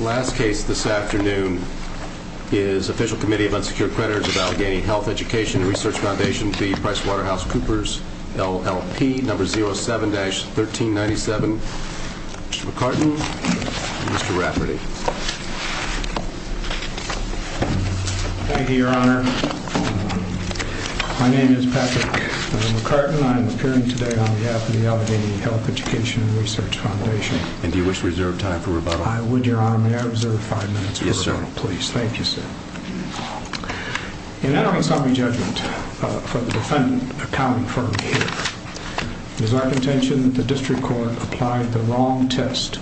Last case this afternoon is Official Committee of Unsecured Creditors of Allegheny Health, Education and Research Foundation v. PricewaterhouseCoopers, LLP, No. 07-1397. Mr. McCartin and Mr. Rafferty. Thank you, Your Honor. My name is Patrick McCartin. I am appearing today on behalf of the Allegheny Health, Education and Research Foundation. And do you wish to reserve time for rebuttal? I would, Your Honor. May I reserve five minutes for rebuttal, please? Yes, sir. Thank you, sir. In entering summary judgment for the defendant accounting firm here, it is our contention that the district court applied the wrong test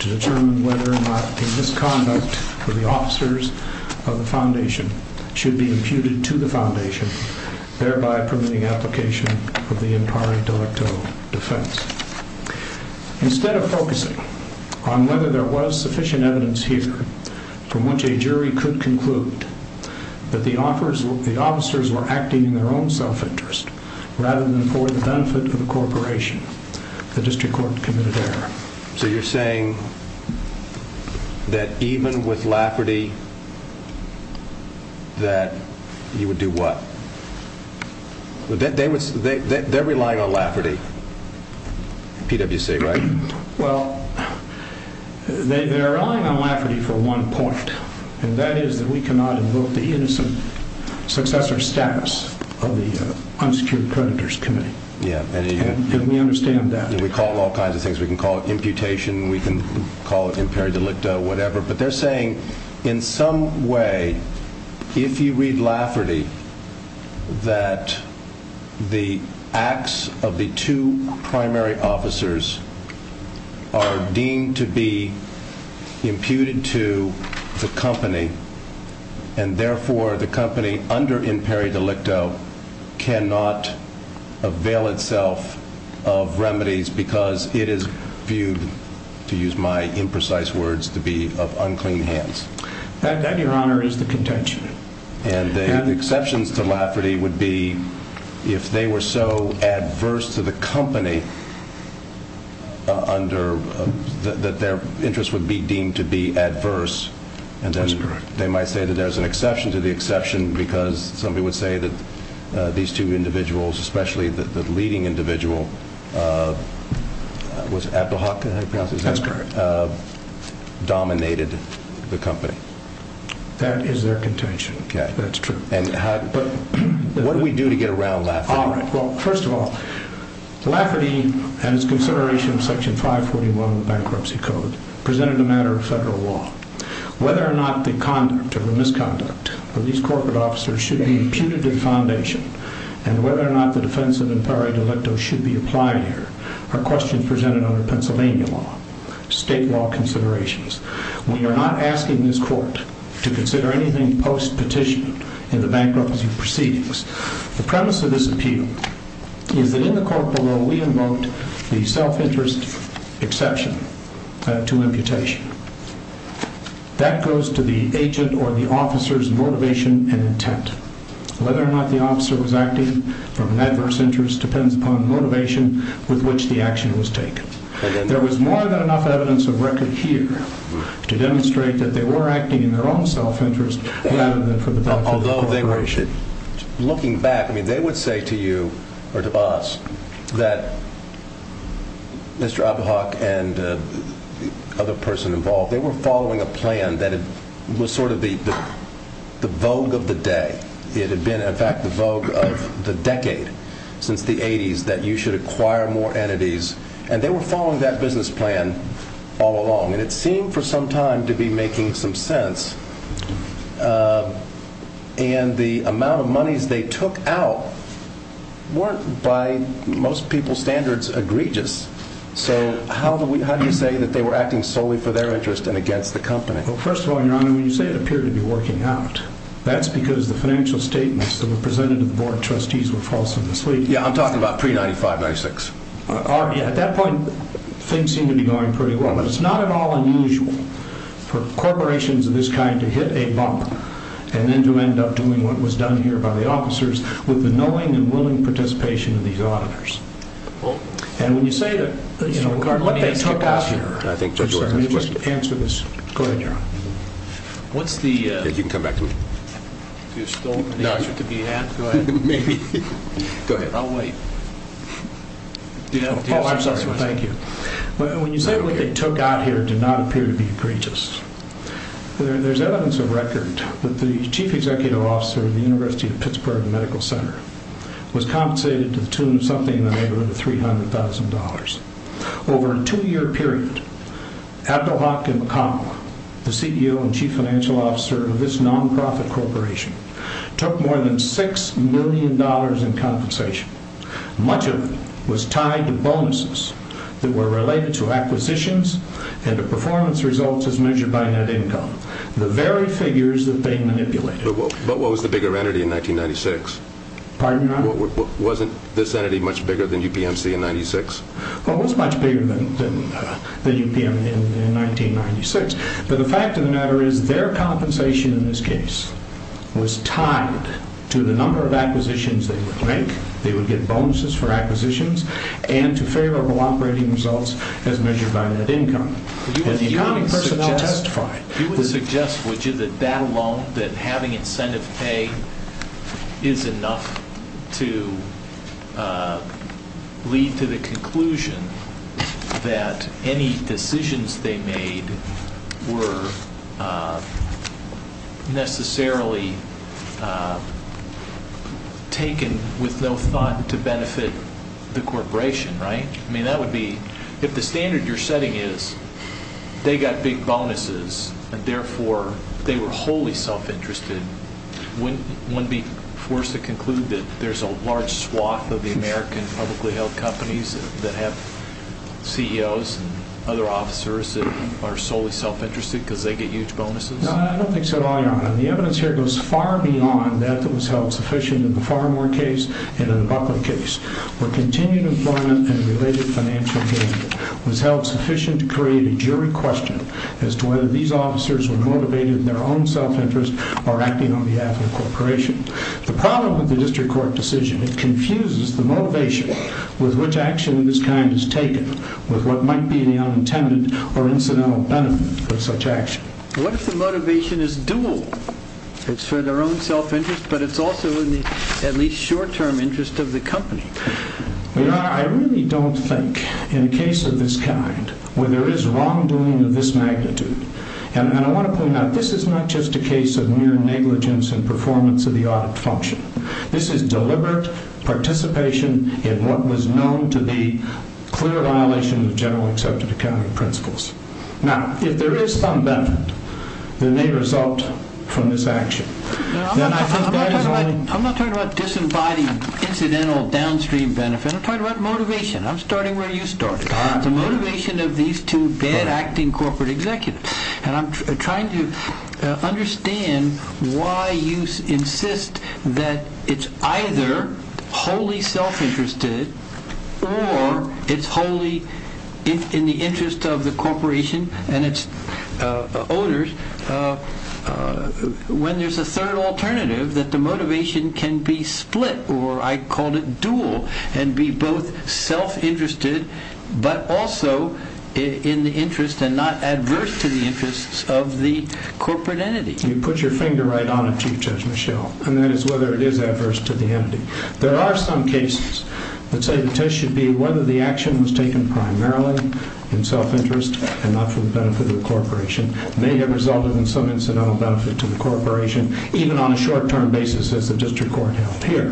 to determine whether or not the misconduct of the officers of the foundation should be imputed to the foundation, thereby permitting application of the impari delicto defense. Instead of focusing on whether there was sufficient evidence here from which a jury could conclude that the officers were acting in their own self-interest rather than for the benefit of the corporation, the district court committed error. So you're saying that even with Rafferty that you would do what? They're relying on Rafferty, PwC, right? Well, they're relying on Rafferty for one point, and that is that we cannot invoke the innocent successor status of the unsecured creditors committee. Yeah. And we understand that. We call it all kinds of things. Because it is viewed, to use my imprecise words, to be of unclean hands. That, your honor, is the contention. And the exceptions to Rafferty would be if they were so adverse to the company that their interests would be deemed to be adverse. That's correct. They might say that there's an exception to the exception because somebody would say that these two individuals, especially the leading individual, was it Abdulhaq? That's correct. Dominated the company. That is their contention. Okay. That's true. But what do we do to get around Rafferty? Well, first of all, Rafferty, at its consideration of Section 541 of the Bankruptcy Code, presented a matter of federal law. Whether or not the conduct or the misconduct of these corporate officers should be imputed to the foundation, and whether or not the defense of imperial delecto should be applied here, are questions presented under Pennsylvania law, state law considerations. We are not asking this court to consider anything post-petition in the bankruptcy proceedings. The premise of this appeal is that in the court below, we invoked the self-interest exception to imputation. That goes to the agent or the officer's motivation and intent. Whether or not the officer was acting from an adverse interest depends upon the motivation with which the action was taken. There was more than enough evidence of record here to demonstrate that they were acting in their own self-interest rather than for the benefit of the corporation. Looking back, they would say to you, or to us, that Mr. Abahok and the other person involved, they were following a plan that was sort of the vogue of the day. It had been, in fact, the vogue of the decade since the 80s, that you should acquire more entities. And they were following that business plan all along. And it seemed for some time to be making some sense. And the amount of monies they took out weren't, by most people's standards, egregious. So how do you say that they were acting solely for their interest and against the company? Well, first of all, Your Honor, when you say it appeared to be working out, that's because the financial statements that were presented to the board of trustees were false and misleading. Yeah, I'm talking about pre-'95-'96. At that point, things seemed to be going pretty well. But it's not at all unusual for corporations of this kind to hit a bump and then to end up doing what was done here by the officers with the knowing and willing participation of these auditors. And when you say that what they took out here, let me just answer this. Go ahead, Your Honor. You can come back to me. Do you still want the answer to be asked? Maybe. Go ahead. I'll wait. Oh, I'm sorry. Thank you. When you say what they took out here did not appear to be egregious, there's evidence of record that the chief executive officer of the University of Pittsburgh Medical Center was compensated to the tune of something in the neighborhood of $300,000. Over a two-year period, Abdelhakim Kamal, the CEO and chief financial officer of this nonprofit corporation, took more than $6 million in compensation. Much of it was tied to bonuses that were related to acquisitions and the performance results as measured by net income. The very figures that they manipulated. But what was the bigger entity in 1996? Pardon, Your Honor? Wasn't this entity much bigger than UPMC in 1996? Well, it was much bigger than UPMC in 1996. But the fact of the matter is their compensation in this case was tied to the number of acquisitions they would make. They would get bonuses for acquisitions and to favorable operating results as measured by net income. Would you suggest that alone, that having incentive pay is enough to lead to the conclusion that any decisions they made were necessarily taken with no thought to benefit the corporation, right? I mean, that would be, if the standard you're setting is they got big bonuses and therefore they were wholly self-interested, wouldn't one be forced to conclude that there's a large swath of the American publicly held companies that have CEOs and other officers that are solely self-interested because they get huge bonuses? No, I don't think so at all, Your Honor. The evidence here goes far beyond that that was held sufficient in the Farmer case and in the Buckley case. Where continued employment and related financial gain was held sufficient to create a jury question as to whether these officers were motivated in their own self-interest or acting on behalf of the corporation. The problem with the district court decision, it confuses the motivation with which action of this kind is taken with what might be the unintended or incidental benefit of such action. What if the motivation is dual? It's for their own self-interest, but it's also in the at least short-term interest of the company. Your Honor, I really don't think, in a case of this kind, where there is wrongdoing of this magnitude, and I want to point out, this is not just a case of mere negligence in performance of the audit function. This is deliberate participation in what was known to be clear violation of generally accepted accounting principles. Now, if there is some benefit that may result from this action, then I think that is only... I'm talking about motivation. I'm starting where you started. The motivation of these two bad-acting corporate executives. And I'm trying to understand why you insist that it's either wholly self-interested or it's wholly in the interest of the corporation and its owners when there's a third alternative that the motivation can be split, or I call it dual, and be both self-interested, but also in the interest and not adverse to the interests of the corporate entity. You put your finger right on it, Chief Judge Michel. And that is whether it is adverse to the entity. There are some cases, let's say the test should be whether the action was taken primarily in self-interest and not for the benefit of the corporation. It may have resulted in some incidental benefit to the corporation, even on a short-term basis as the district court held here.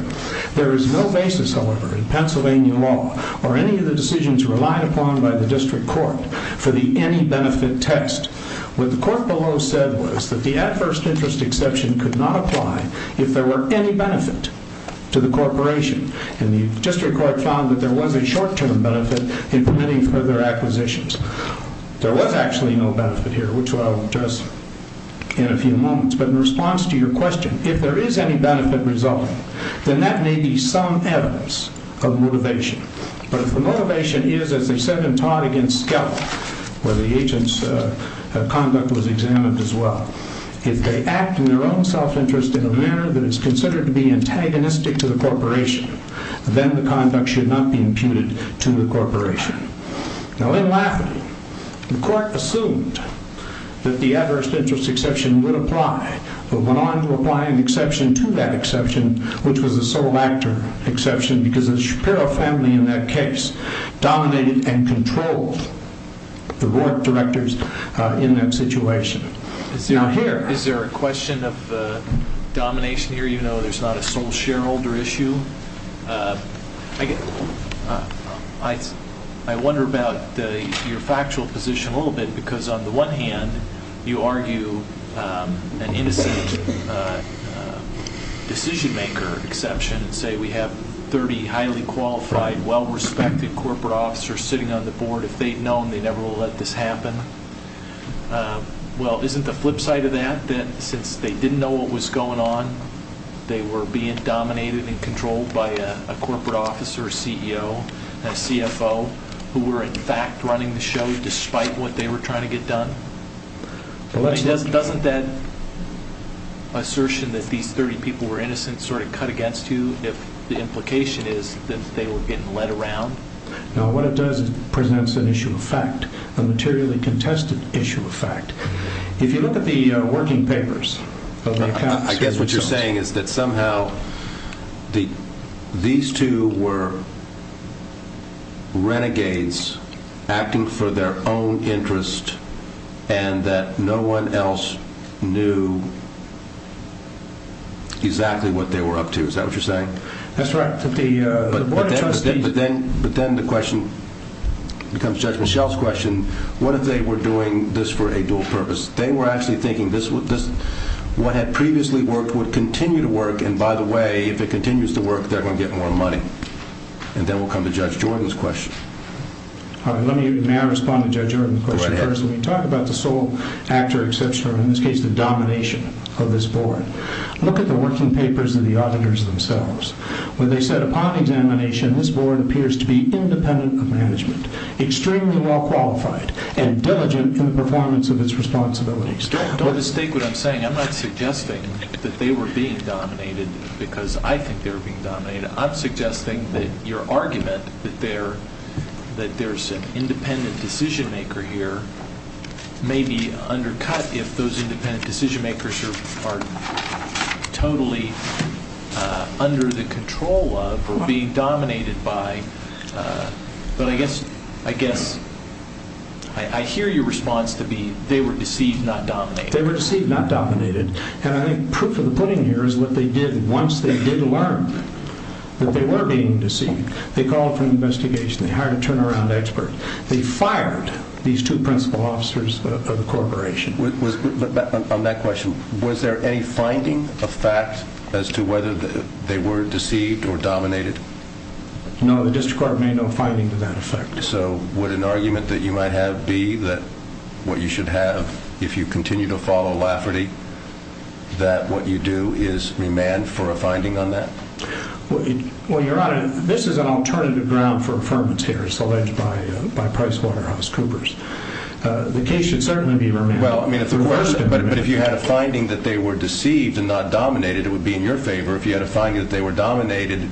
There is no basis, however, in Pennsylvania law or any of the decisions relied upon by the district court for the any-benefit test. What the court below said was that the adverse interest exception could not apply if there were any benefit to the corporation. And the district court found that there was a short-term benefit in permitting further acquisitions. There was actually no benefit here, which I'll address in a few moments. But in response to your question, if there is any benefit resulting, then that may be some evidence of motivation. But if the motivation is, as they said in Todd against Skelton, where the agent's conduct was examined as well, if they act in their own self-interest in a manner that is considered to be antagonistic to the corporation, then the conduct should not be imputed to the corporation. Now, in Lafferty, the court assumed that the adverse interest exception would apply, but went on to apply an exception to that exception, which was a sole actor exception, because the Shapiro family in that case dominated and controlled the Rourke directors in that situation. Now, here... Is there a question of domination here? You know there's not a sole shareholder issue. I wonder about your factual position a little bit, because on the one hand you argue an innocent decision-maker exception and say we have 30 highly qualified, well-respected corporate officers sitting on the board. If they'd known, they never would have let this happen. Well, isn't the flip side of that that since they didn't know what was going on, they were being dominated and controlled by a corporate officer, a CEO, a CFO, who were in fact running the show despite what they were trying to get done? Doesn't that assertion that these 30 people were innocent sort of cut against you if the implication is that they were getting led around? No, what it does is it presents an issue of fact, a materially contested issue of fact. If you look at the working papers of the accounts... I guess what you're saying is that somehow these two were renegades acting for their own interest and that no one else knew exactly what they were up to. Is that what you're saying? That's right. But then the question becomes Judge Michel's question. What if they were doing this for a dual purpose? They were actually thinking what had previously worked would continue to work and by the way, if it continues to work, they're going to get more money. And then we'll come to Judge Jordan's question. May I respond to Judge Jordan's question first? Go right ahead. Let me talk about the sole actor exception, or in this case the domination of this board. Look at the working papers of the auditors themselves where they said upon examination this board appears to be independent of management, extremely well qualified and diligent in the performance of its responsibilities. Don't mistake what I'm saying. I'm not suggesting that they were being dominated because I think they were being dominated. I'm suggesting that your argument that there's an independent decision maker here may be undercut if those independent decision makers are totally under the control of being dominated by, but I guess I hear your response to be they were deceived, not dominated. They were deceived, not dominated. And I think proof of the pudding here is what they did once they did learn that they were being deceived. They called for an investigation. They hired a turnaround expert. They fired these two principal officers of the corporation. On that question, was there any finding of fact as to whether they were deceived or dominated? No, the district court made no finding to that effect. So would an argument that you might have be that what you should have if you continue to follow Lafferty, that what you do is remand for a finding on that? Well, Your Honor, this is an alternative ground for affirmance here. It's alleged by PricewaterhouseCoopers. The case should certainly be remanded. But if you had a finding that they were deceived and not dominated, it would be in your favor. If you had a finding that they were dominated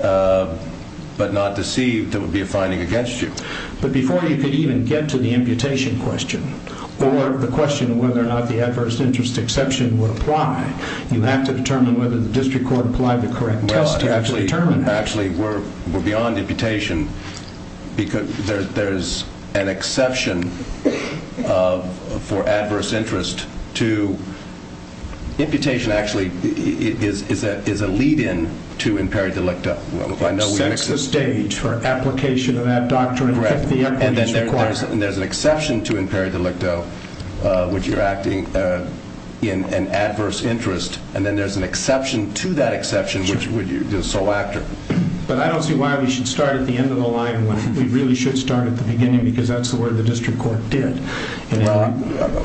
but not deceived, it would be a finding against you. But before you could even get to the imputation question or the question of whether or not the adverse interest exception would apply, you have to determine whether the district court applied the correct test to actually determine that. Actually, we're beyond imputation. There's an exception for adverse interest. Imputation actually is a lead-in to imperi delicto. It sets the stage for application of that doctrine. And there's an exception to imperi delicto, which you're acting in an adverse interest. And then there's an exception to that exception, which is sole actor. But I don't see why we should start at the end of the line when we really should start at the beginning because that's the word the district court did. Well,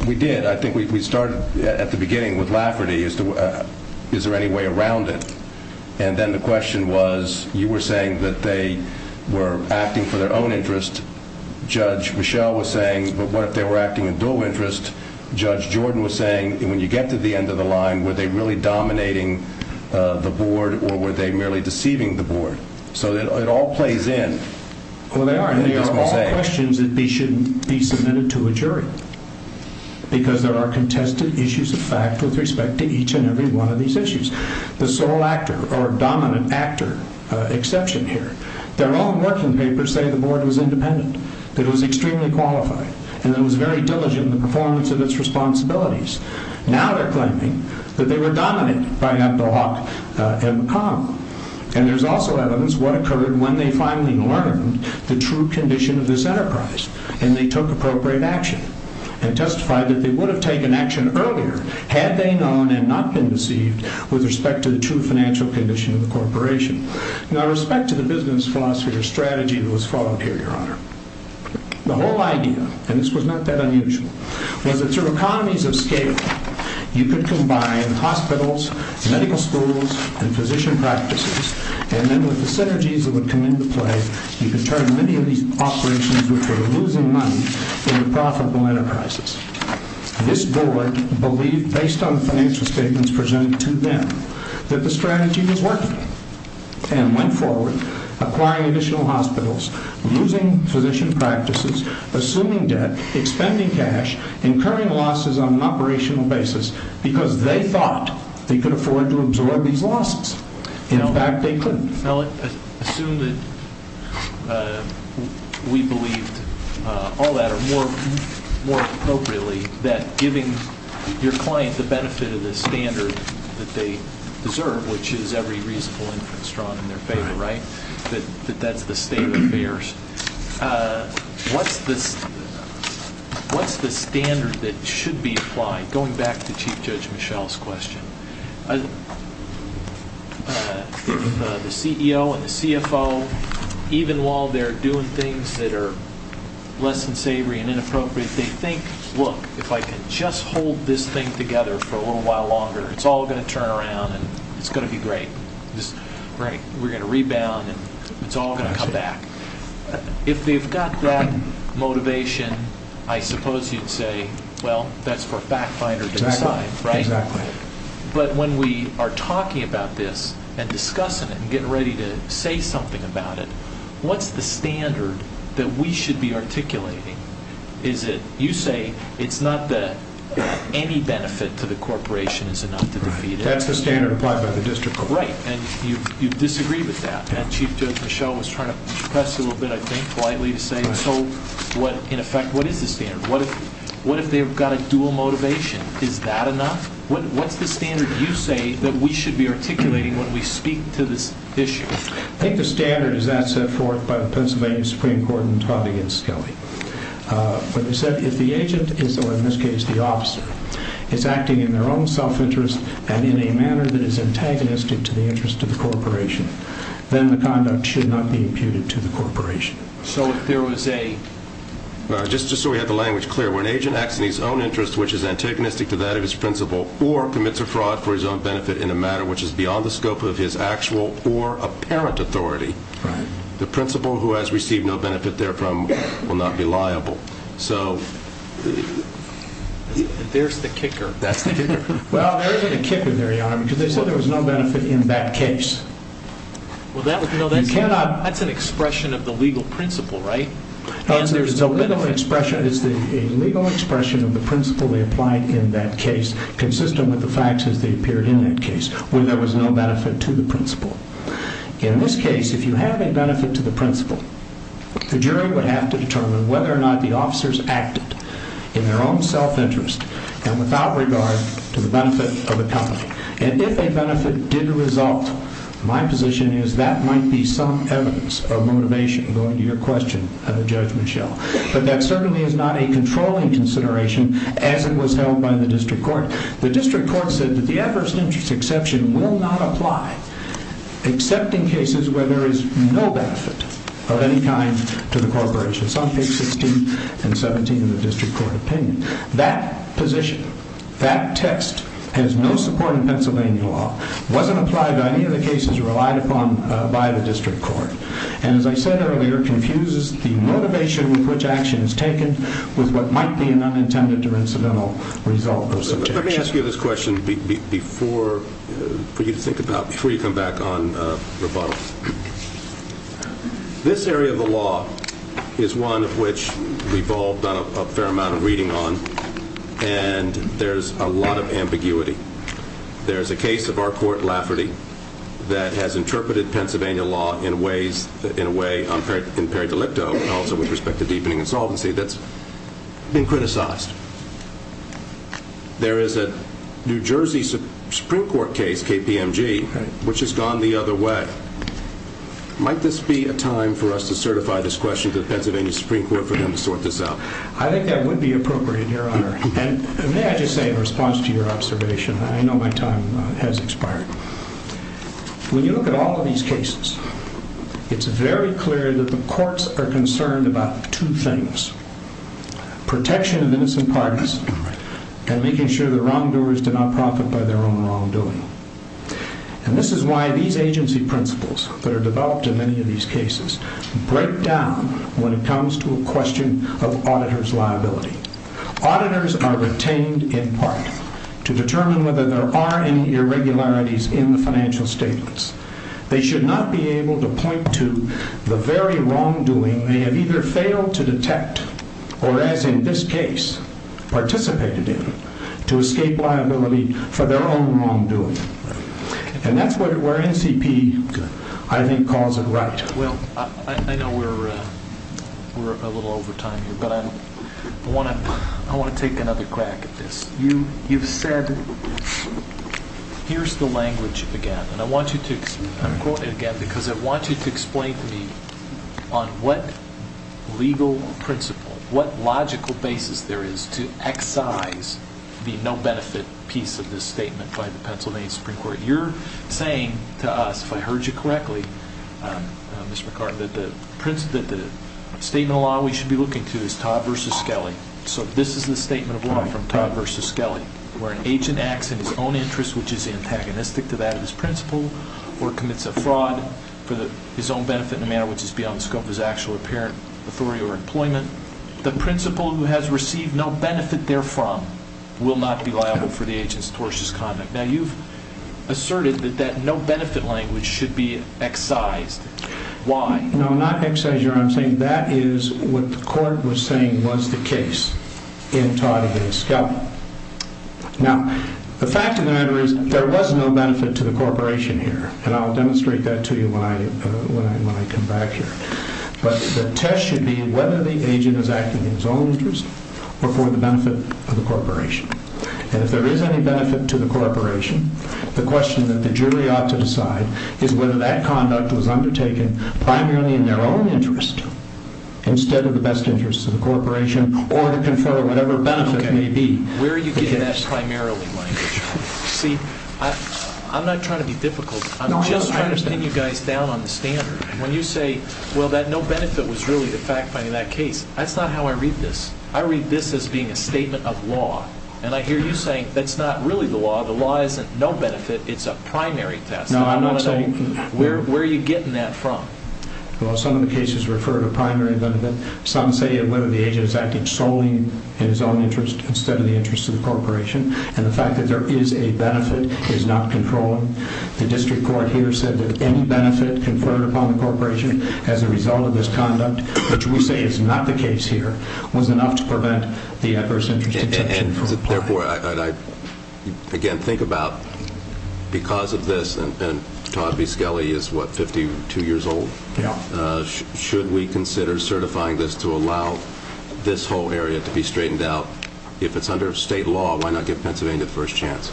we did. I think we started at the beginning with Lafferty. Is there any way around it? And then the question was you were saying that they were acting for their own interest. Judge Michelle was saying, but what if they were acting in dual interest? Judge Jordan was saying, when you get to the end of the line, were they really dominating the board or were they merely deceiving the board? So it all plays in. Well, they are. They are all questions that shouldn't be submitted to a jury because there are contested issues of fact with respect to each and every one of these issues. The sole actor or dominant actor exception here, their own working papers say the board was independent, that it was extremely qualified, and that it was very diligent in the performance of its responsibilities. Now they're claiming that they were dominated by Abdulhaq and McConnell. And there's also evidence what occurred when they finally learned the true condition of this enterprise and they took appropriate action and testified that they would have taken action earlier had they known and not been deceived with respect to the true financial condition of the corporation. Now, with respect to the business philosophy or strategy that was followed here, Your Honor, the whole idea, and this was not that unusual, was that through economies of scale, you could combine hospitals, medical schools, and physician practices, and then with the synergies that would come into play, you could turn many of these operations which were losing money into profitable enterprises. This board believed, based on financial statements presented to them, that the strategy was working and went forward acquiring additional hospitals, losing physician practices, assuming debt, expending cash, incurring losses on an operational basis, because they thought they could afford to absorb these losses. In fact, they couldn't. Now, assume that we believed all that, or more appropriately, that giving your client the benefit of the standard that they deserve, which is every reasonable interest drawn in their favor, right, assuming that that's the state of affairs, what's the standard that should be applied? Going back to Chief Judge Michel's question, if the CEO and the CFO, even while they're doing things that are less than savory and inappropriate, they think, look, if I can just hold this thing together for a little while longer, it's all going to turn around and it's going to be great. We're going to rebound and it's all going to come back. If they've got that motivation, I suppose you'd say, well, that's for a fact finder to decide, right? Exactly. But when we are talking about this and discussing it and getting ready to say something about it, what's the standard that we should be articulating? Is it, you say, it's not that any benefit to the corporation is enough to defeat it. That's the standard applied by the district court. Right, and you disagree with that. And Chief Judge Michel was trying to press you a little bit, I think, politely to say, so in effect, what is the standard? What if they've got a dual motivation? Is that enough? What's the standard you say that we should be articulating when we speak to this issue? I think the standard is that set forth by the Pennsylvania Supreme Court in Todd v. Skelly, where they said if the agent is, or in this case the officer, is acting in their own self-interest and in a manner that is antagonistic to the interest of the corporation, then the conduct should not be imputed to the corporation. So if there was a, just so we have the language clear, where an agent acts in his own interest which is antagonistic to that of his principal or commits a fraud for his own benefit in a matter which is beyond the scope of his actual or apparent authority, the principal who has received no benefit therefrom will not be liable. There's the kicker. That's the kicker. Well, there is a kicker there, Your Honor, because they said there was no benefit in that case. Well, that's an expression of the legal principle, right? No, it's a legal expression of the principle they applied in that case consistent with the facts as they appeared in that case, where there was no benefit to the principal. In this case, if you have a benefit to the principal, the jury would have to determine whether or not the officers acted in their own self-interest and without regard to the benefit of the company. And if a benefit did result, my position is that might be some evidence of motivation going to your question of the judgment shell. But that certainly is not a controlling consideration as it was held by the district court. The district court said that the adverse interest exception will not apply except in cases where there is no benefit of any kind to the corporation. Some take 16 and 17 in the district court opinion. That position, that text, has no support in Pennsylvania law, wasn't applied to any of the cases relied upon by the district court, and as I said earlier, confuses the motivation with which action is taken with what might be an unintended or incidental result of some action. Let me ask you this question before you come back on rebuttals. This area of the law is one of which we've all done a fair amount of reading on, and there's a lot of ambiguity. There's a case of our court, Lafferty, that has interpreted Pennsylvania law in a way, in peridolipto, also with respect to deepening insolvency, that's been criticized. There is a New Jersey Supreme Court case, KPMG, which has gone the other way. Might this be a time for us to certify this question to the Pennsylvania Supreme Court for them to sort this out? I think that would be appropriate, Your Honor. And may I just say in response to your observation, I know my time has expired. When you look at all of these cases, it's very clear that the courts are concerned about two things. Protection of innocent parties and making sure the wrongdoers do not profit by their own wrongdoing. And this is why these agency principles that are developed in many of these cases break down when it comes to a question of auditor's liability. Auditors are retained in part to determine whether there are any irregularities in the financial statements. They should not be able to point to the very wrongdoing that they have either failed to detect or, as in this case, participated in to escape liability for their own wrongdoing. And that's where NCP, I think, calls it right. Well, I know we're a little over time here, but I want to take another crack at this. You've said, here's the language again. I'm quoting again because I want you to explain to me on what legal principle, what logical basis there is to excise the no-benefit piece of this statement by the Pennsylvania Supreme Court. You're saying to us, if I heard you correctly, Ms. McCartin, that the statement of law we should be looking to is Todd v. Skelly. Where an agent acts in his own interest, which is antagonistic to that of his principal, or commits a fraud for his own benefit in a manner which is beyond the scope of his actual apparent authority or employment, the principal who has received no benefit therefrom will not be liable for the agent's tortious conduct. Now, you've asserted that that no-benefit language should be excised. Why? No, not excise, Your Honor. I'm saying that is what the court was saying was the case in Todd v. Skelly. Now, the fact of the matter is there was no benefit to the corporation here, and I'll demonstrate that to you when I come back here. But the test should be whether the agent is acting in his own interest or for the benefit of the corporation. And if there is any benefit to the corporation, the question that the jury ought to decide is whether that conduct was undertaken primarily in their own interest instead of the best interest of the corporation or to confer whatever benefit may be. Okay. Where are you getting that primarily language from? See, I'm not trying to be difficult. I'm just trying to pin you guys down on the standard. When you say, well, that no benefit was really the fact finding that case, that's not how I read this. I read this as being a statement of law. And I hear you saying that's not really the law. The law isn't no benefit. It's a primary test. No, I'm not saying that. Where are you getting that from? Well, some of the cases refer to primary benefit. Some say whether the agent is acting solely in his own interest instead of the interest of the corporation. And the fact that there is a benefit is not controlling. The district court here said that any benefit conferred upon the corporation as a result of this conduct, which we say is not the case here, was enough to prevent the adverse interest exemption from applying. Therefore, I, again, think about because of this, and Todd V. Skelly is, what, 52 years old? Yeah. Should we consider certifying this to allow this whole area to be straightened out? If it's under state law, why not give Pennsylvania the first chance?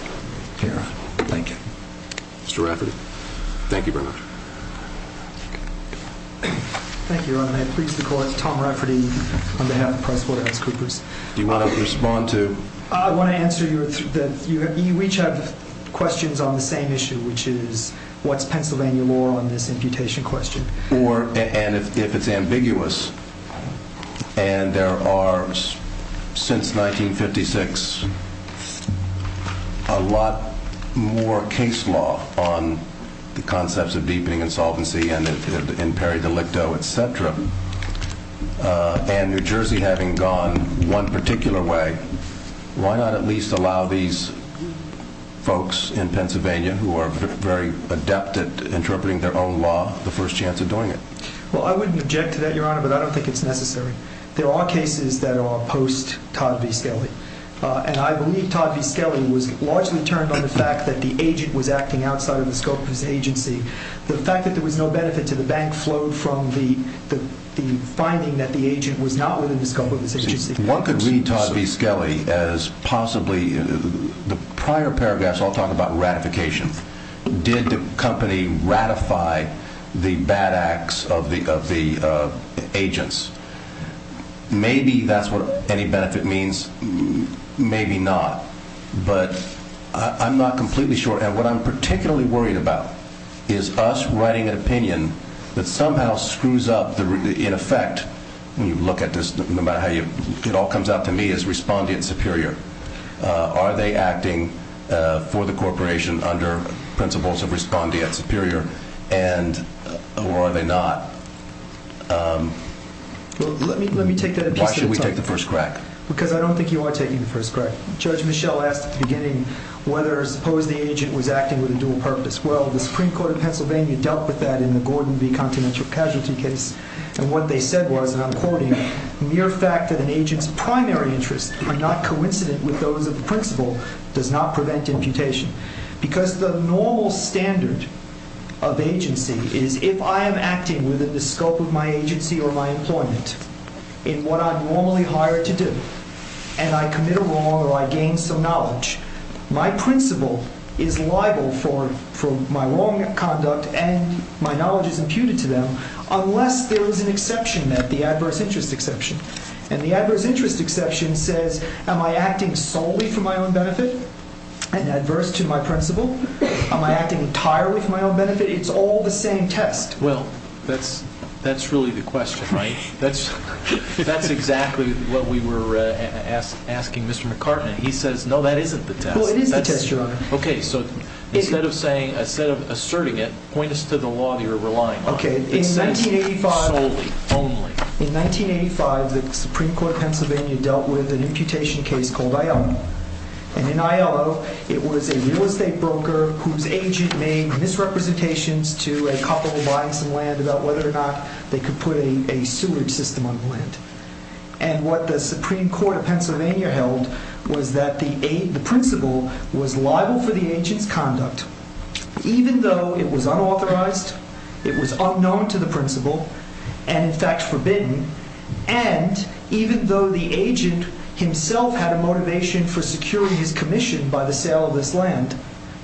Thank you. Mr. Rafferty? Thank you very much. Thank you. I'm pleased to call up Tom Rafferty on behalf of PricewaterhouseCoopers. Do you want to respond to? I want to answer your three questions. You each have questions on the same issue, which is what's Pennsylvania law on this imputation question. And if it's ambiguous, and there are, since 1956, a lot more case law on the concepts of deepening insolvency and peri-delicto, et cetera, and New Jersey having gone one particular way, why not at least allow these folks in Pennsylvania, who are very adept at interpreting their own law, the first chance of doing it? Well, I wouldn't object to that, Your Honor, but I don't think it's necessary. There are cases that are post-Todd V. Skelly, and I believe Todd V. Skelly was largely turned on the fact that the agent was acting outside of the scope of his agency. The fact that there was no benefit to the bank flowed from the finding that the agent was not within the scope of his agency. One could read Todd V. Skelly as possibly the prior paragraphs all talk about ratification. Did the company ratify the bad acts of the agents? Maybe that's what any benefit means, maybe not. But I'm not completely sure. And what I'm particularly worried about is us writing an opinion that somehow screws up, in effect, when you look at this, no matter how it all comes out to me, is respondeat superior. Are they acting for the corporation under principles of respondeat superior, or are they not? Let me take that a piece at a time. Why should we take the first crack? Because I don't think you are taking the first crack. Judge Michel asked at the beginning whether or suppose the agent was acting with a dual purpose. Well, the Supreme Court of Pennsylvania dealt with that in the Gordon v. Continental Casualty case. And what they said was, and I'm quoting, mere fact that an agent's primary interests are not coincident with those of the principal does not prevent imputation. Because the normal standard of agency is if I am acting within the scope of my agency or my employment, in what I'm normally hired to do, and I commit a wrong or I gain some knowledge, my principal is liable for my wrong conduct and my knowledge is imputed to them, unless there is an exception, the adverse interest exception. And the adverse interest exception says, am I acting solely for my own benefit and adverse to my principal? Am I acting entirely for my own benefit? It's all the same test. Well, that's really the question, right? That's exactly what we were asking Mr. McCartney. He says, no, that isn't the test. Well, it is the test, Your Honor. Okay, so instead of asserting it, point us to the law that you're relying on. Okay, in 1985. It says solely, only. In 1985, the Supreme Court of Pennsylvania dealt with an imputation case called Aiello. And in Aiello, it was a real estate broker whose agent made misrepresentations to a couple buying some land about whether or not they could put a sewage system on the land. And what the Supreme Court of Pennsylvania held was that the principal was liable for the agent's conduct, even though it was unauthorized, it was unknown to the principal, and in fact forbidden, and even though the agent himself had a motivation for securing his commission by the sale of this land,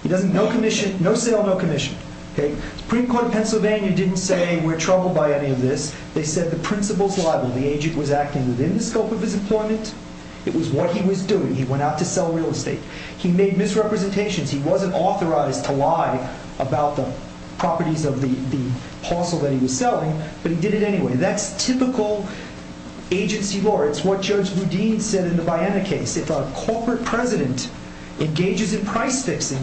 no commission, no sale, no commission. The Supreme Court of Pennsylvania didn't say we're troubled by any of this. They said the principal's liable. The agent was acting within the scope of his employment. It was what he was doing. He went out to sell real estate. He made misrepresentations. He wasn't authorized to lie about the properties of the parcel that he was selling, but he did it anyway. That's typical agency law. It's what Judge Boudin said in the Baena case. If a corporate president engages in price fixing,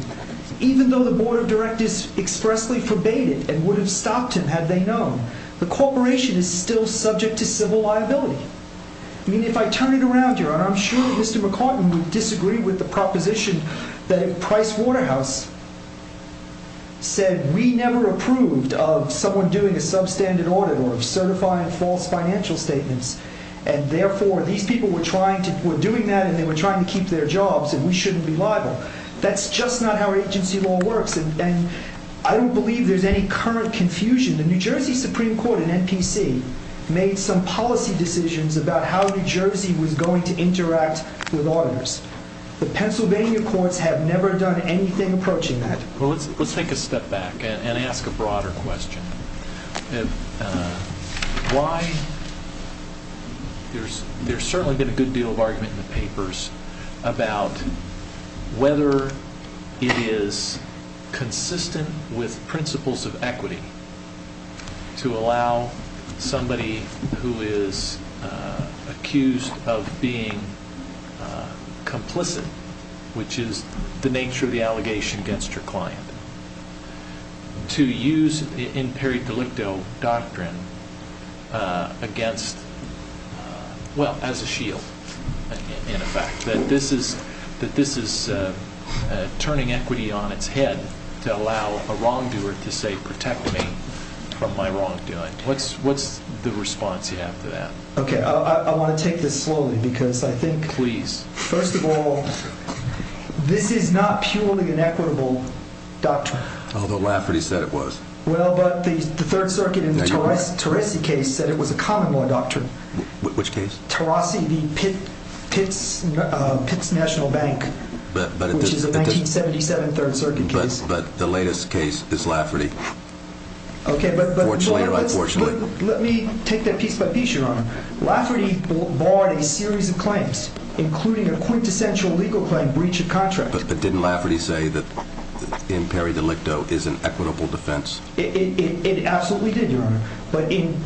even though the board of directors expressly forbade it and would have stopped him had they known, the corporation is still subject to civil liability. I mean, if I turn it around here, and I'm sure Mr. McCartan would disagree with the proposition that Price Waterhouse said, we never approved of someone doing a substandard audit or certifying false financial statements, and therefore these people were doing that and they were trying to keep their jobs, and we shouldn't be liable. That's just not how agency law works, and I don't believe there's any current confusion. The New Jersey Supreme Court, an NPC, made some policy decisions about how New Jersey was going to interact with auditors. The Pennsylvania courts have never done anything approaching that. Well, let's take a step back and ask a broader question. There's certainly been a good deal of argument in the papers about whether it is consistent with principles of equity to allow somebody who is accused of being complicit, which is the nature of the allegation against your client, to use in peri delicto doctrine against, well, as a shield, in effect, that this is turning equity on its head to allow a wrongdoer to say, protect me from my wrongdoing. What's the response you have to that? Okay, I want to take this slowly because I think, first of all, this is not purely an equitable doctrine. Although Lafferty said it was. Well, but the Third Circuit in the Terrasi case said it was a common law doctrine. Which case? Terrasi, the Pitts National Bank, which is a 1977 Third Circuit case. But the latest case is Lafferty. Okay, but let me take that piece by piece, Your Honor. Lafferty barred a series of claims, including a quintessential legal claim, breach of contract. But didn't Lafferty say that in peri delicto is an equitable defense? It absolutely did, Your Honor. But in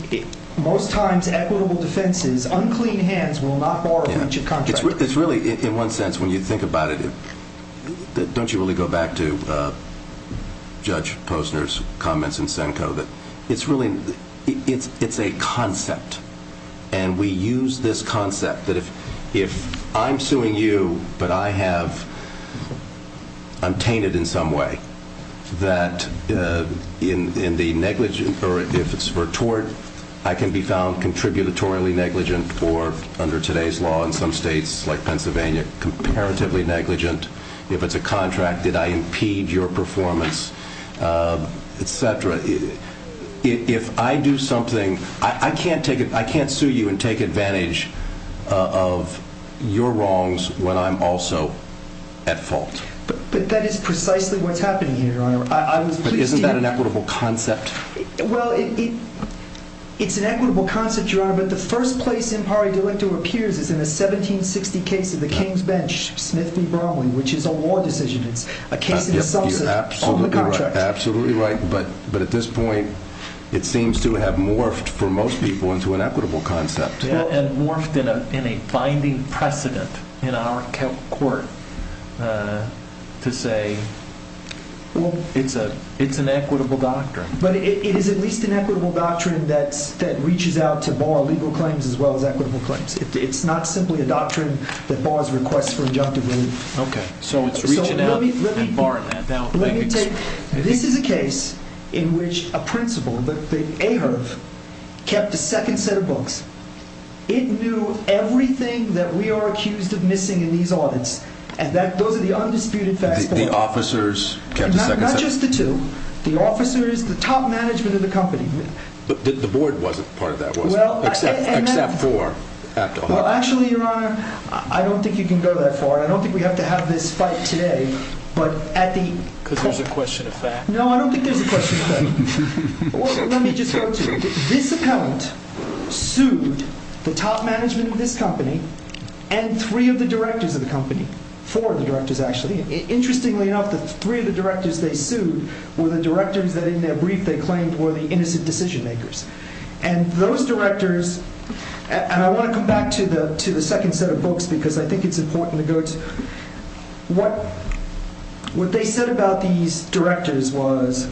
most times equitable defenses, unclean hands will not bar a breach of contract. It's really, in one sense, when you think about it, don't you really go back to Judge Posner's comments in Senko? It's a concept, and we use this concept that if I'm suing you but I have untainted in some way, that in the negligent, or if it's for tort, I can be found contributory negligent, or under today's law in some states like Pennsylvania, comparatively negligent. If it's a contract, did I impede your performance, et cetera. If I do something, I can't sue you and take advantage of your wrongs when I'm also at fault. But that is precisely what's happening here, Your Honor. But isn't that an equitable concept? Well, it's an equitable concept, Your Honor, but the first place in peri delicto appears is in the 1760 case of the King's Bench, Smith v. Bromley, which is a law decision. It's a case in the subset of the contract. You're absolutely right. But at this point, it seems to have morphed for most people into an equitable concept. Yeah, and morphed in a binding precedent in our court to say it's an equitable doctrine. But it is at least an equitable doctrine that reaches out to bar legal claims as well as equitable claims. It's not simply a doctrine that bars requests for injunctive relief. Okay, so it's reaching out and barring that. This is a case in which a principal, the AHRQ, kept a second set of books. It knew everything that we are accused of missing in these audits. And those are the undisputed facts. The officers kept a second set? Not just the two. The officers, the top management of the company. But the board wasn't part of that, was it? Except for Apto. Well, actually, Your Honor, I don't think you can go that far. I don't think we have to have this fight today. Because there's a question of fact. No, I don't think there's a question of fact. Let me just go to it. This appellant sued the top management of this company and three of the directors of the company. Four of the directors, actually. Interestingly enough, the three of the directors they sued were the directors that in their brief they claimed were the innocent decision makers. And those directors... And I want to come back to the second set of books because I think it's important to go to... What they said about these directors was...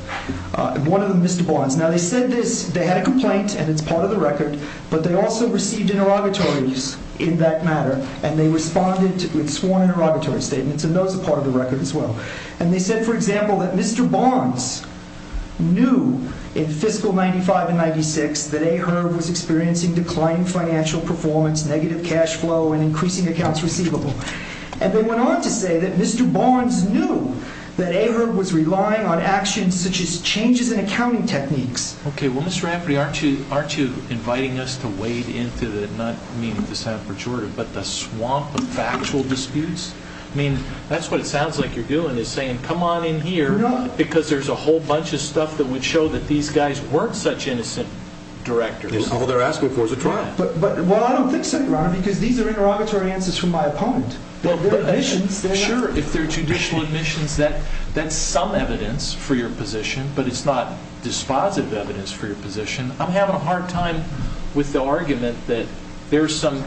One of them, Mr. Barnes. Now, they said this. They had a complaint and it's part of the record. But they also received interrogatories in that matter. And they responded with sworn interrogatory statements. And those are part of the record as well. And they said, for example, that Mr. Barnes knew in Fiscal 95 and 96 that A. Herb was experiencing declining financial performance, negative cash flow, and increasing accounts receivable. And they went on to say that Mr. Barnes knew that A. Herb was relying on actions such as changes in accounting techniques. Okay, well, Mr. Rafferty, aren't you inviting us to wade into the... Not meaning to sound pejorative, but the swamp of factual disputes? I mean, that's what it sounds like you're doing is saying, come on in here... No. Because there's a whole bunch of stuff that would show that these guys weren't such innocent directors. All they're asking for is a trial. Well, I don't think so, Your Honor, because these are interrogatory answers from my opponent. They're admissions. Sure, if they're judicial admissions, that's some evidence for your position. But it's not dispositive evidence for your position. I'm having a hard time with the argument that there's some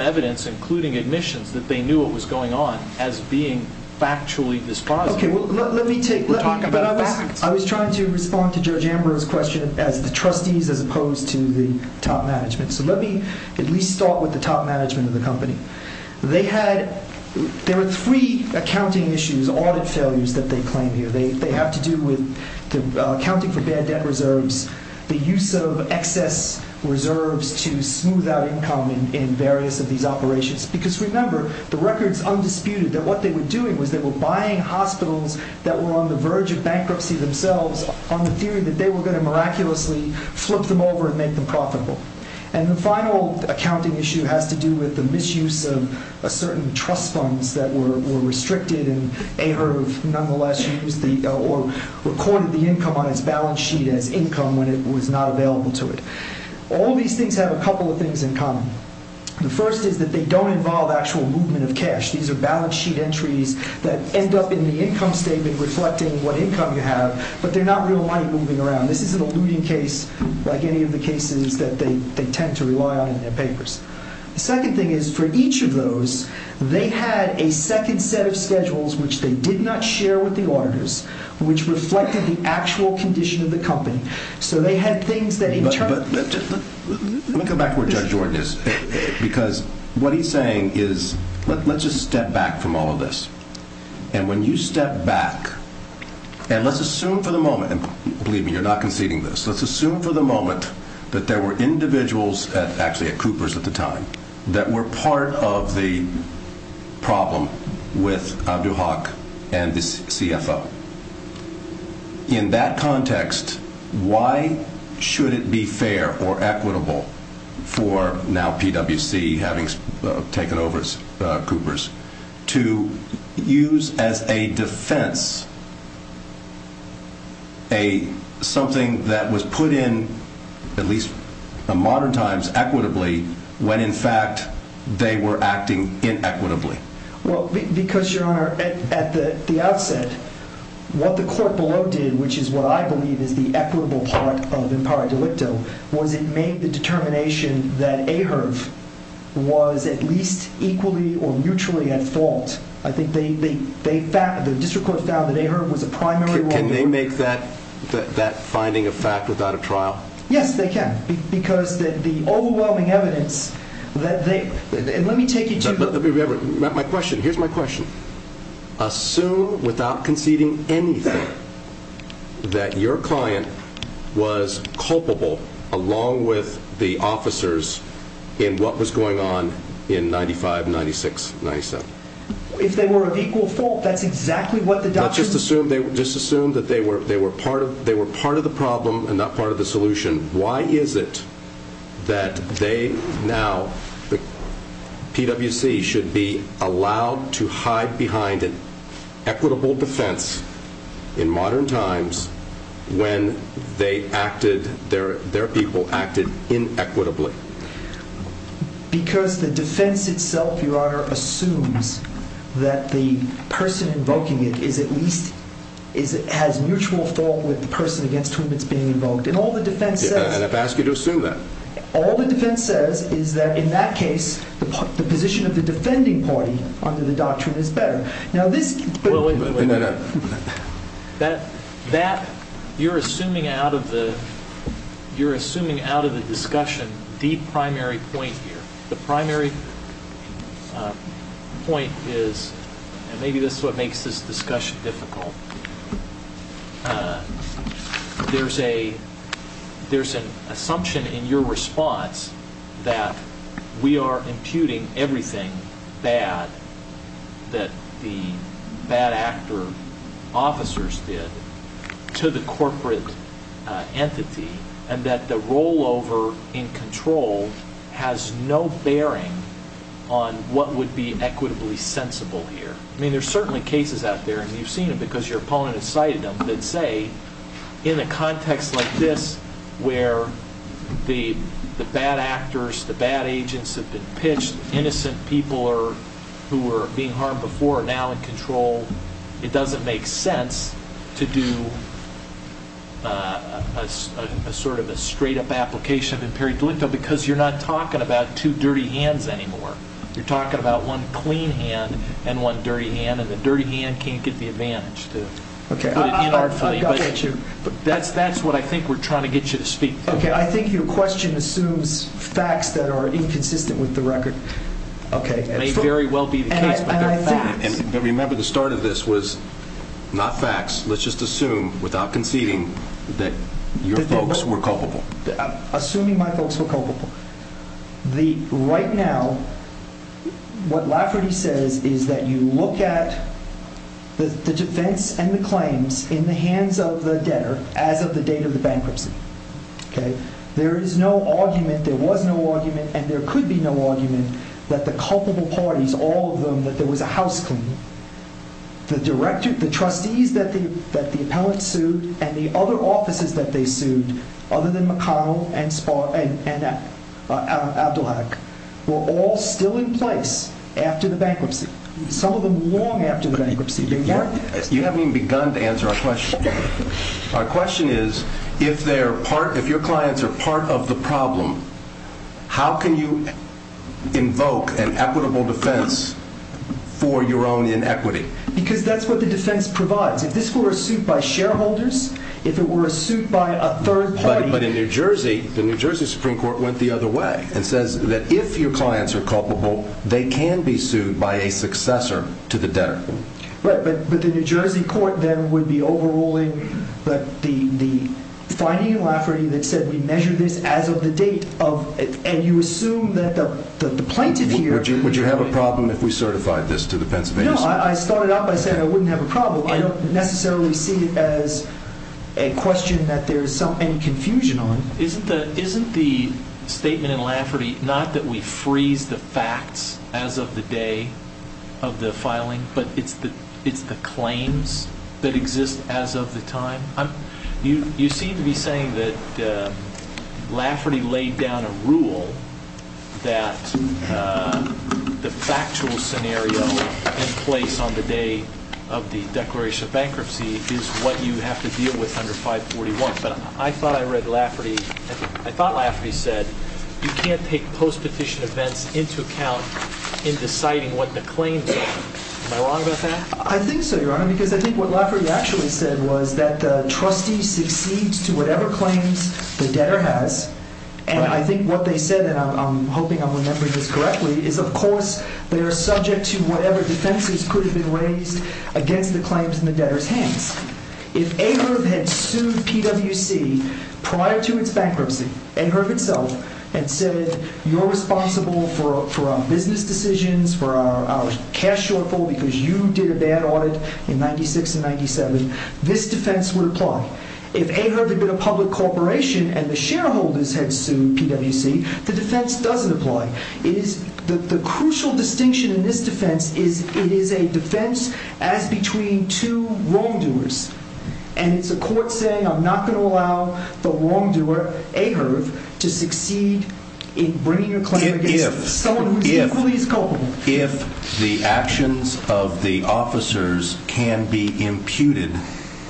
evidence, including admissions, that they knew what was going on as being factually dispositive. Okay, well, let me take... We're talking about facts. I was trying to respond to Judge Amber's question as the trustees as opposed to the top management. So let me at least start with the top management of the company. They had... There were three accounting issues, audit failures that they claim here. They have to do with accounting for bad debt reserves, the use of excess reserves to smooth out income in various of these operations. Because remember, the record's undisputed that what they were doing was they were buying hospitals that were on the verge of bankruptcy themselves on the theory that they were going to miraculously flip them over and make them profitable. And the final accounting issue has to do with the misuse of certain trust funds that were restricted and AHRQ nonetheless recorded the income on its balance sheet as income when it was not available to it. All these things have a couple of things in common. The first is that they don't involve actual movement of cash. These are balance sheet entries that end up in the income statement reflecting what income you have, but they're not real money moving around. This is an alluding case like any of the cases that they tend to rely on in their papers. The second thing is for each of those, they had a second set of schedules which they did not share with the auditors which reflected the actual condition of the company. So they had things that in turn... Let me go back to where Judge Jordan is because what he's saying is let's just step back from all of this. And when you step back and let's assume for the moment, and believe me, you're not conceding this. Let's assume for the moment that there were individuals actually at Cooper's at the time that were part of the problem with Abduhak and the CFO. In that context, why should it be fair or equitable for now PwC having taken over Cooper's to use as a defense something that was put in, at least in modern times, equitably when in fact they were acting inequitably? Well, because, Your Honor, at the outset, what the court below did, which is what I believe is the equitable part of impar delicto, was it made the determination that Aherb was at least equally or mutually at fault. I think the district court found that Aherb was a primary wrongdoer. Can they make that finding a fact without a trial? Yes, they can because the overwhelming evidence that they... Let me take you to... My question, here's my question. Assume, without conceding anything, that your client was culpable along with the officers in what was going on in 95, 96, 97. If they were of equal fault, that's exactly what the doctor... Let's just assume that they were part of the problem and not part of the solution. Why is it that they now, the PWC, should be allowed to hide behind an equitable defense in modern times when their people acted inequitably? Because the defense itself, Your Honor, assumes that the person invoking it has mutual fault with the person against whom it's being invoked. And all the defense says... And I've asked you to assume that. All the defense says is that, in that case, the position of the defending party under the doctrine is better. Now this... That, you're assuming out of the discussion, the primary point here. The primary point is, and maybe this is what makes this discussion difficult. There's an assumption in your response that we are imputing everything bad that the bad actor officers did to the corporate entity and that the rollover in control has no bearing on what would be equitably sensible here. I mean, there's certainly cases out there, and you've seen it because your opponent has cited them, that say, in a context like this where the bad actors, the bad agents have been pitched, innocent people who were being harmed before are now in control, it doesn't make sense to do a sort of a straight-up application of imperative delicto because you're not talking about two dirty hands anymore. You're talking about one clean hand and one dirty hand, and the dirty hand can't get the advantage to put it in artfully. But that's what I think we're trying to get you to speak to. Okay, I think your question assumes facts that are inconsistent with the record. It may very well be the case, but they're facts. Remember, the start of this was not facts. Let's just assume, without conceding, that your folks were culpable. Assuming my folks were culpable. Right now, what Lafferty says is that you look at the defense and the claims in the hands of the debtor as of the date of the bankruptcy. There is no argument, there was no argument, and there could be no argument that the culpable parties, all of them, that there was a housecleaning, the trustees that the appellant sued and the other offices that they sued, other than McConnell and Abdullak, were all still in place after the bankruptcy. Some of them long after the bankruptcy began. You haven't even begun to answer our question. Our question is, if your clients are part of the problem, how can you invoke an equitable defense for your own inequity? Because that's what the defense provides. If this were a suit by shareholders, if it were a suit by a third party... But in New Jersey, the New Jersey Supreme Court went the other way and says that if your clients are culpable, they can be sued by a successor to the debtor. But the New Jersey court then would be overruling the finding in Lafferty that said we measure this as of the date, and you assume that the plaintiff here... Would you have a problem if we certified this to the Pennsylvania Supreme Court? No, I started out by saying I wouldn't have a problem. I don't necessarily see it as a question that there is some confusion on. Isn't the statement in Lafferty not that we freeze the facts as of the day of the filing, but it's the claims that exist as of the time? You seem to be saying that Lafferty laid down a rule that the factual scenario in place on the day of the declaration of bankruptcy is what you have to deal with under 541. But I thought I read Lafferty... I thought Lafferty said you can't take post-petition events into account in deciding what the claims are. Am I wrong about that? I think so, Your Honor, because I think what Lafferty actually said was that the trustee succeeds to whatever claims the debtor has. And I think what they said, and I'm hoping I'm remembering this correctly, is of course they are subject to whatever defenses could have been raised against the claims in the debtor's hands. If Ahrefs had sued PWC prior to its bankruptcy, Ahrefs itself had said you're responsible for our business decisions, for our cash shortfall because you did a bad audit in 96 and 97, this defense would apply. If Ahrefs had been a public corporation and the shareholders had sued PWC, the defense doesn't apply. The crucial distinction in this defense is it is a defense as between two wrongdoers. And it's a court saying I'm not going to allow the wrongdoer, Ahrefs, to succeed in bringing a claim against someone who is equally as culpable. If the actions of the officers can be imputed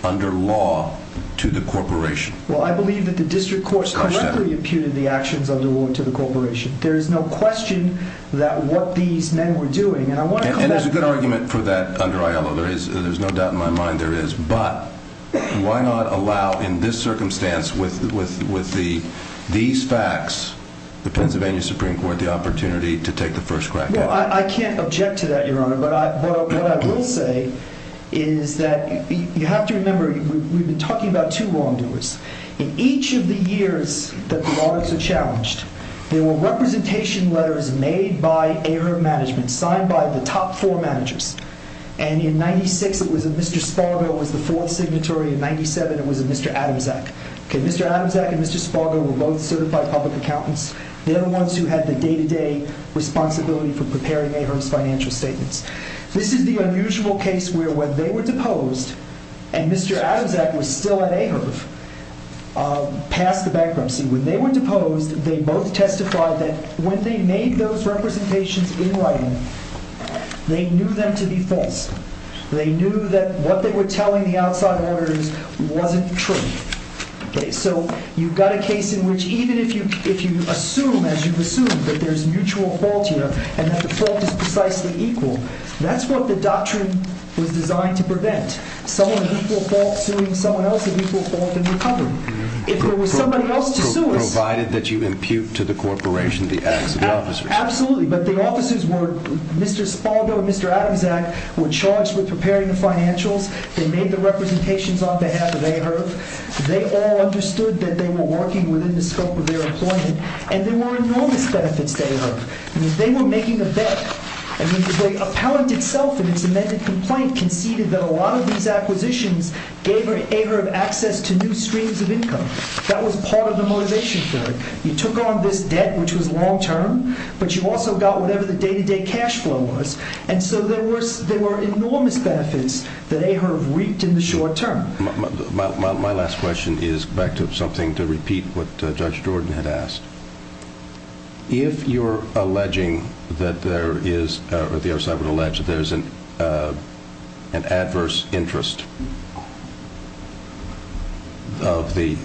under law to the corporation. Well, I believe that the district courts correctly imputed the actions under law to the corporation. There is no question that what these men were doing, and I want to call out... And there's a good argument for that under Aiello. There's no doubt in my mind there is. But why not allow in this circumstance with these facts the Pennsylvania Supreme Court the opportunity to take the first crack at it? Well, I can't object to that, Your Honor. But what I will say is that you have to remember, we've been talking about two wrongdoers. In each of the years that the audits were challenged, there were representation letters made by Ahrefs management, signed by the top four managers. And in 96, it was a Mr. Spargo was the fourth signatory. In 97, it was a Mr. Adamczak. Mr. Adamczak and Mr. Spargo were both certified public accountants. They're the ones who had the day-to-day responsibility for preparing Ahrefs financial statements. This is the unusual case where when they were deposed, and Mr. Adamczak was still at Ahrefs past the bankruptcy, when they were deposed, they both testified that when they made those representations in writing, they knew them to be false. They knew that what they were telling the outside auditors wasn't true. So you've got a case in which even if you assume, as you've assumed, that there's mutual fault here, and that the fault is precisely equal, that's what the doctrine was designed to prevent. Someone of equal fault suing someone else of equal fault in recovery. If there was somebody else to sue us... Provided that you impute to the corporation the acts of the officers. Absolutely, but the officers were... Mr. Spargo and Mr. Adamczak were charged with preparing the financials. They made the representations on behalf of Ahrefs. They all understood that they were working within the scope of their employment. And there were enormous benefits to Ahrefs. They were making a bet. The appellant itself, in its amended complaint, conceded that a lot of these acquisitions gave Ahrefs access to new streams of income. That was part of the motivation for it. You took on this debt, which was long-term, but you also got whatever the day-to-day cash flow was. And so there were enormous benefits that Ahrefs reaped in the short term. My last question is back to something to repeat what Judge Jordan had asked. If you're alleging that there is... or the other side would allege that there is an adverse interest of the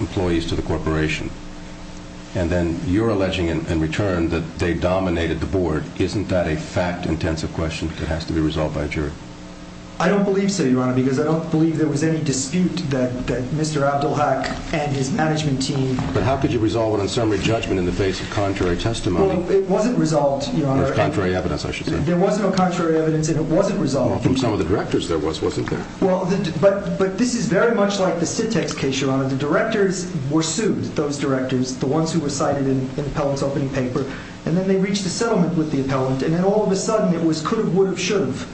employees to the corporation, and then you're alleging in return that they dominated the board, isn't that a fact-intensive question that has to be resolved by a jury? I don't believe so, Your Honor, because I don't believe there was any dispute that Mr. Abdelhak and his management team... But how could you resolve it on summary judgment in the face of contrary testimony? Well, it wasn't resolved, Your Honor. Or contrary evidence, I should say. There was no contrary evidence, and it wasn't resolved. Well, from some of the directors there was, wasn't there? Well, but this is very much like the SITEX case, Your Honor. The directors were sued, those directors, the ones who were cited in the appellant's opening paper. And then they reached a settlement with the appellant, and then all of a sudden it was could've, would've, should've.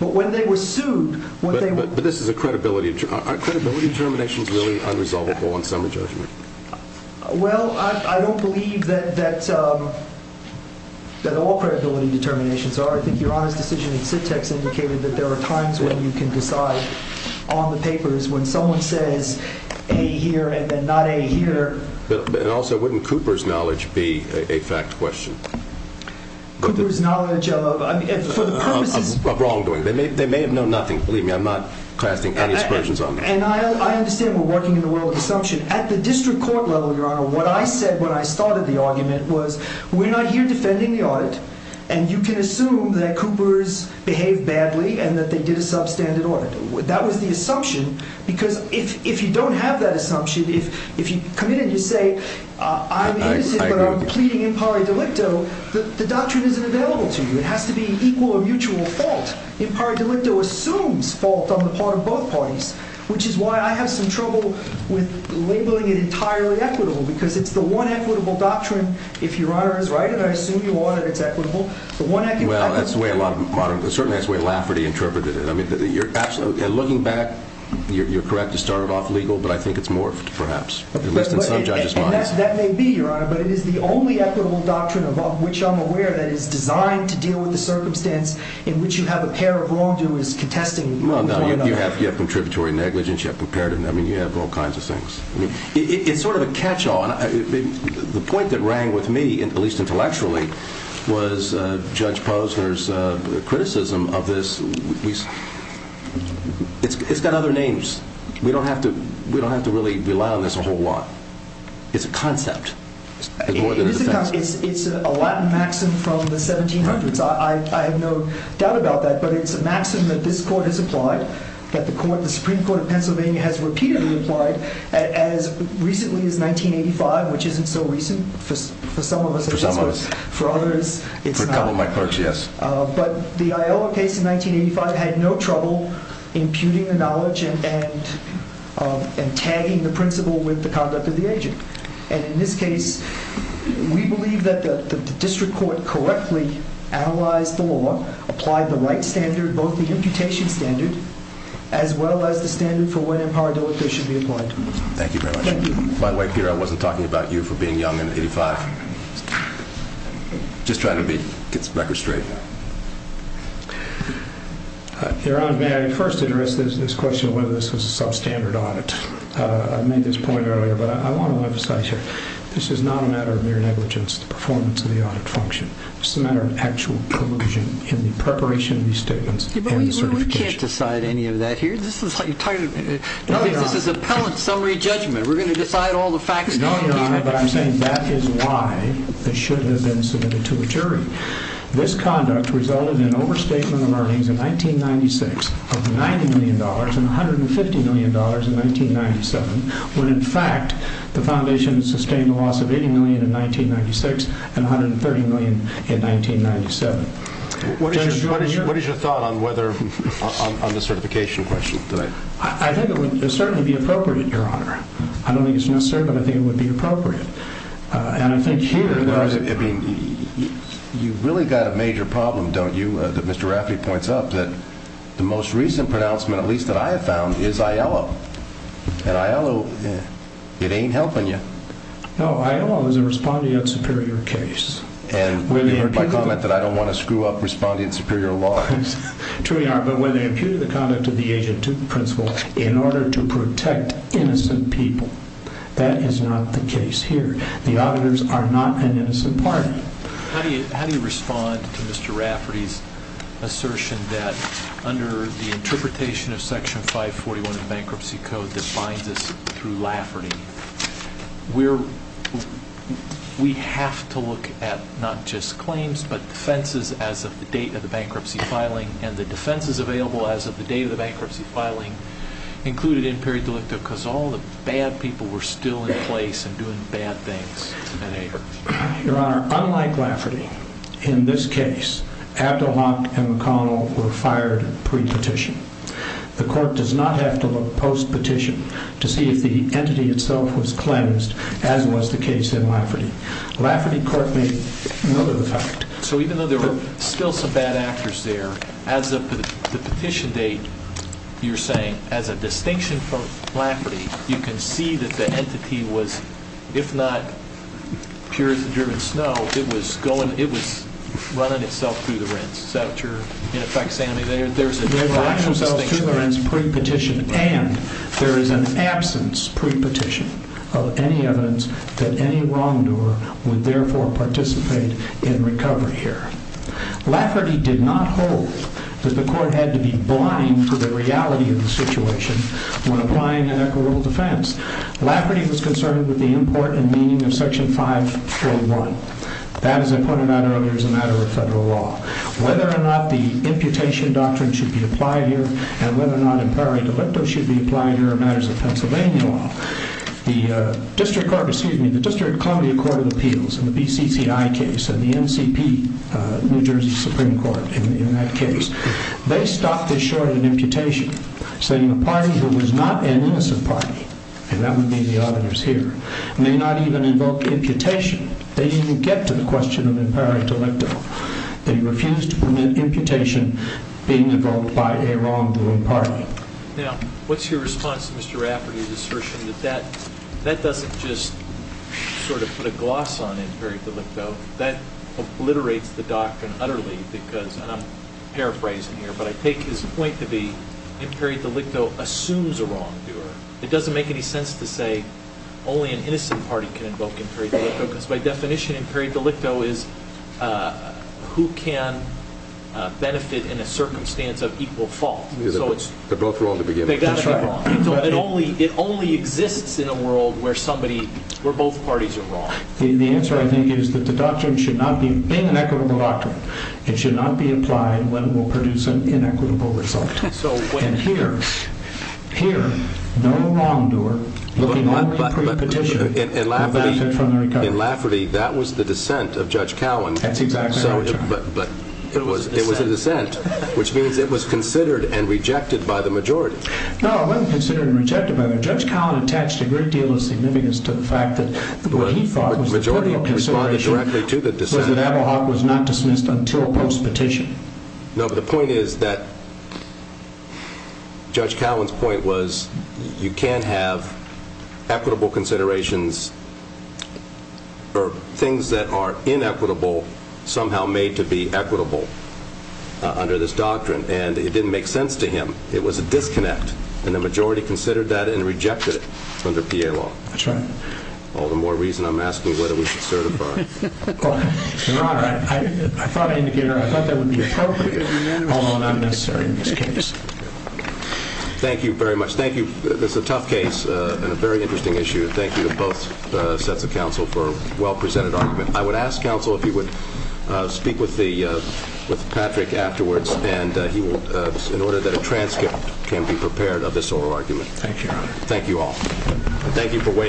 But when they were sued, what they were... But this is a credibility... Are credibility determinations really unresolvable on summary judgment? Well, I don't believe that all credibility determinations are. I think Your Honor's decision in SITEX indicated that there are times when you can decide on the papers when someone says A here and then not A here. But also, wouldn't Cooper's knowledge be a fact question? Cooper's knowledge of, I mean, for the purposes... Of wrongdoing. They may have known nothing. Believe me, I'm not casting any aspersions on this. And I understand we're working in the world of assumption. At the district court level, Your Honor, what I said when I started the argument was we're not here defending the audit, and you can assume that Cooper's behaved badly and that they did a substandard audit. That was the assumption, because if you don't have that assumption, if you come in and you say, I'm innocent, but I'm pleading impari delicto, the doctrine isn't available to you. It has to be equal or mutual fault. Impari delicto assumes fault on the part of both parties, which is why I have some trouble with labeling it entirely equitable, because it's the one equitable doctrine, if Your Honor is right, and I assume Your Honor it's equitable, the one equitable... Well, that's the way a lot of modern... Certainly that's the way Lafferty interpreted it. I mean, you're absolutely... And looking back, you're correct to start it off legal, but I think it's morphed, perhaps, at least in some judges' minds. That may be, Your Honor, but it is the only equitable doctrine of which I'm aware that is designed to deal with the circumstance in which you have a pair of wrongdoers contesting one another. You have contributory negligence, you have comparative... I mean, you have all kinds of things. It's sort of a catch-all. The point that rang with me, at least intellectually, was Judge Posner's criticism of this. It's got other names. We don't have to really rely on this a whole lot. It's a concept. It's more than a defense. It is a concept. It's a Latin maxim from the 1700s. I have no doubt about that, but it's a maxim that this Court has applied, that the Supreme Court of Pennsylvania has repeatedly applied, as recently as 1985, which isn't so recent for some of us. For some of us. For others, it's not. But the Iowa case in 1985 had no trouble imputing the knowledge and tagging the principle with the conduct of the agent. And in this case, we believe that the district court correctly analyzed the law, applied the right standard, both the imputation standard, as well as the standard for when imparability should be applied. Thank you very much. By the way, Peter, I wasn't talking about you for being young in 1985. Just trying to get the record straight. Your Honor, may I first address this question of whether this was a substandard audit. I made this point earlier, but I want to emphasize here, this is not a matter of mere negligence, the performance of the audit function. This is a matter of actual collusion in the preparation of these statements and the certification. We can't decide any of that here. This is appellate summary judgment. We're going to decide all the facts. No, Your Honor, but I'm saying that is why this should have been submitted to a jury. This conduct resulted in overstatement of earnings in 1996 of $90 million and $150 million in 1997, when in fact the foundation sustained a loss of $80 million in 1996 and $130 million in 1997. What is your thought on the certification question? I think it would certainly be appropriate, Your Honor. I don't think it's necessary, but I think it would be appropriate. Your Honor, you've really got a major problem, don't you, that Mr. Rafferty points out, that the most recent pronouncement, at least that I have found, is Aiello. And Aiello, it ain't helping you. No, Aiello is a responding and superior case. And you heard my comment that I don't want to screw up responding and superior laws. We truly are, but when they imputed the conduct of the agent to the principal in order to protect innocent people, that is not the case here. The auditors are not an innocent party. How do you respond to Mr. Rafferty's assertion that under the interpretation of Section 541 of the Bankruptcy Code that binds us through Lafferty, we have to look at not just claims, but defenses as of the date of the bankruptcy filing, and the defenses available as of the date of the bankruptcy filing included in peri delicto, because all the bad people were still in place and doing bad things. Your Honor, unlike Lafferty, in this case, Abdelhok and McConnell were fired pre-petition. The Court does not have to look post-petition to see if the entity itself was cleansed, as was the case in Lafferty. Lafferty Court made no of the fact. So even though there were still some bad actors there, as of the petition date, you're saying, as a distinction from Lafferty, you can see that the entity was, if not pure as the driven snow, it was running itself through the rinse. Is that what you're, in effect, saying? It ran itself through the rinse pre-petition, and there is an absence pre-petition of any evidence that any wrongdoer would therefore participate in recovery here. Lafferty did not hold that the Court had to be blind to the reality of the situation when applying an equitable defense. Lafferty was concerned with the import and meaning of Section 541. That, as I pointed out earlier, is a matter of federal law. Whether or not the imputation doctrine should be applied here, and whether or not in peri delicto should be applied here, are matters of Pennsylvania law. The District Court, excuse me, the District Columbia Court of Appeals and the BCCI case and the NCP, New Jersey Supreme Court, in that case, they stopped this short in imputation, saying a party who was not an innocent party, and that would be the auditors here, may not even invoke imputation. They didn't even get to the question of in peri delicto. They refused to permit imputation being invoked by a wrongdoing party. Now, what's your response to Mr. Lafferty's assertion that that doesn't just sort of put a gloss on in peri delicto, that obliterates the doctrine utterly because, and I'm paraphrasing here, but I take his point to be in peri delicto assumes a wrongdoer. It doesn't make any sense to say only an innocent party can invoke in peri delicto because by definition in peri delicto is who can benefit in a circumstance of equal fault. They're both wrong to begin with. It only exists in a world where both parties are wrong. The answer, I think, is that the doctrine should not be, being an equitable doctrine, it should not be implied when we'll produce an inequitable result. And here, here, no wrongdoer, looking only at pre-petition, has benefited from the recovery. In Lafferty, that was the dissent of Judge Cowan. But it was a dissent, which means it was considered and rejected by the majority. No, it wasn't considered and rejected by the majority. Judge Cowan attached a great deal of significance to the fact that what he thought was the critical consideration was that Ablehawk was not dismissed until post-petition. No, but the point is that Judge Cowan's point was you can't have equitable considerations or things that are inequitable somehow made to be equitable under this doctrine, and it didn't make sense to him. It was a disconnect, and the majority considered that and rejected it under PA law. That's right. All the more reason I'm asking whether we should certify. Your Honor, I thought that would be appropriate, although not necessary in this case. Thank you very much. Thank you. It's a tough case and a very interesting issue. Thank you to both sets of counsel for a well-presented argument. I would ask, counsel, if you would speak with Patrick afterwards in order that a transcript can be prepared of this oral argument. Thank you, Your Honor. Thank you all.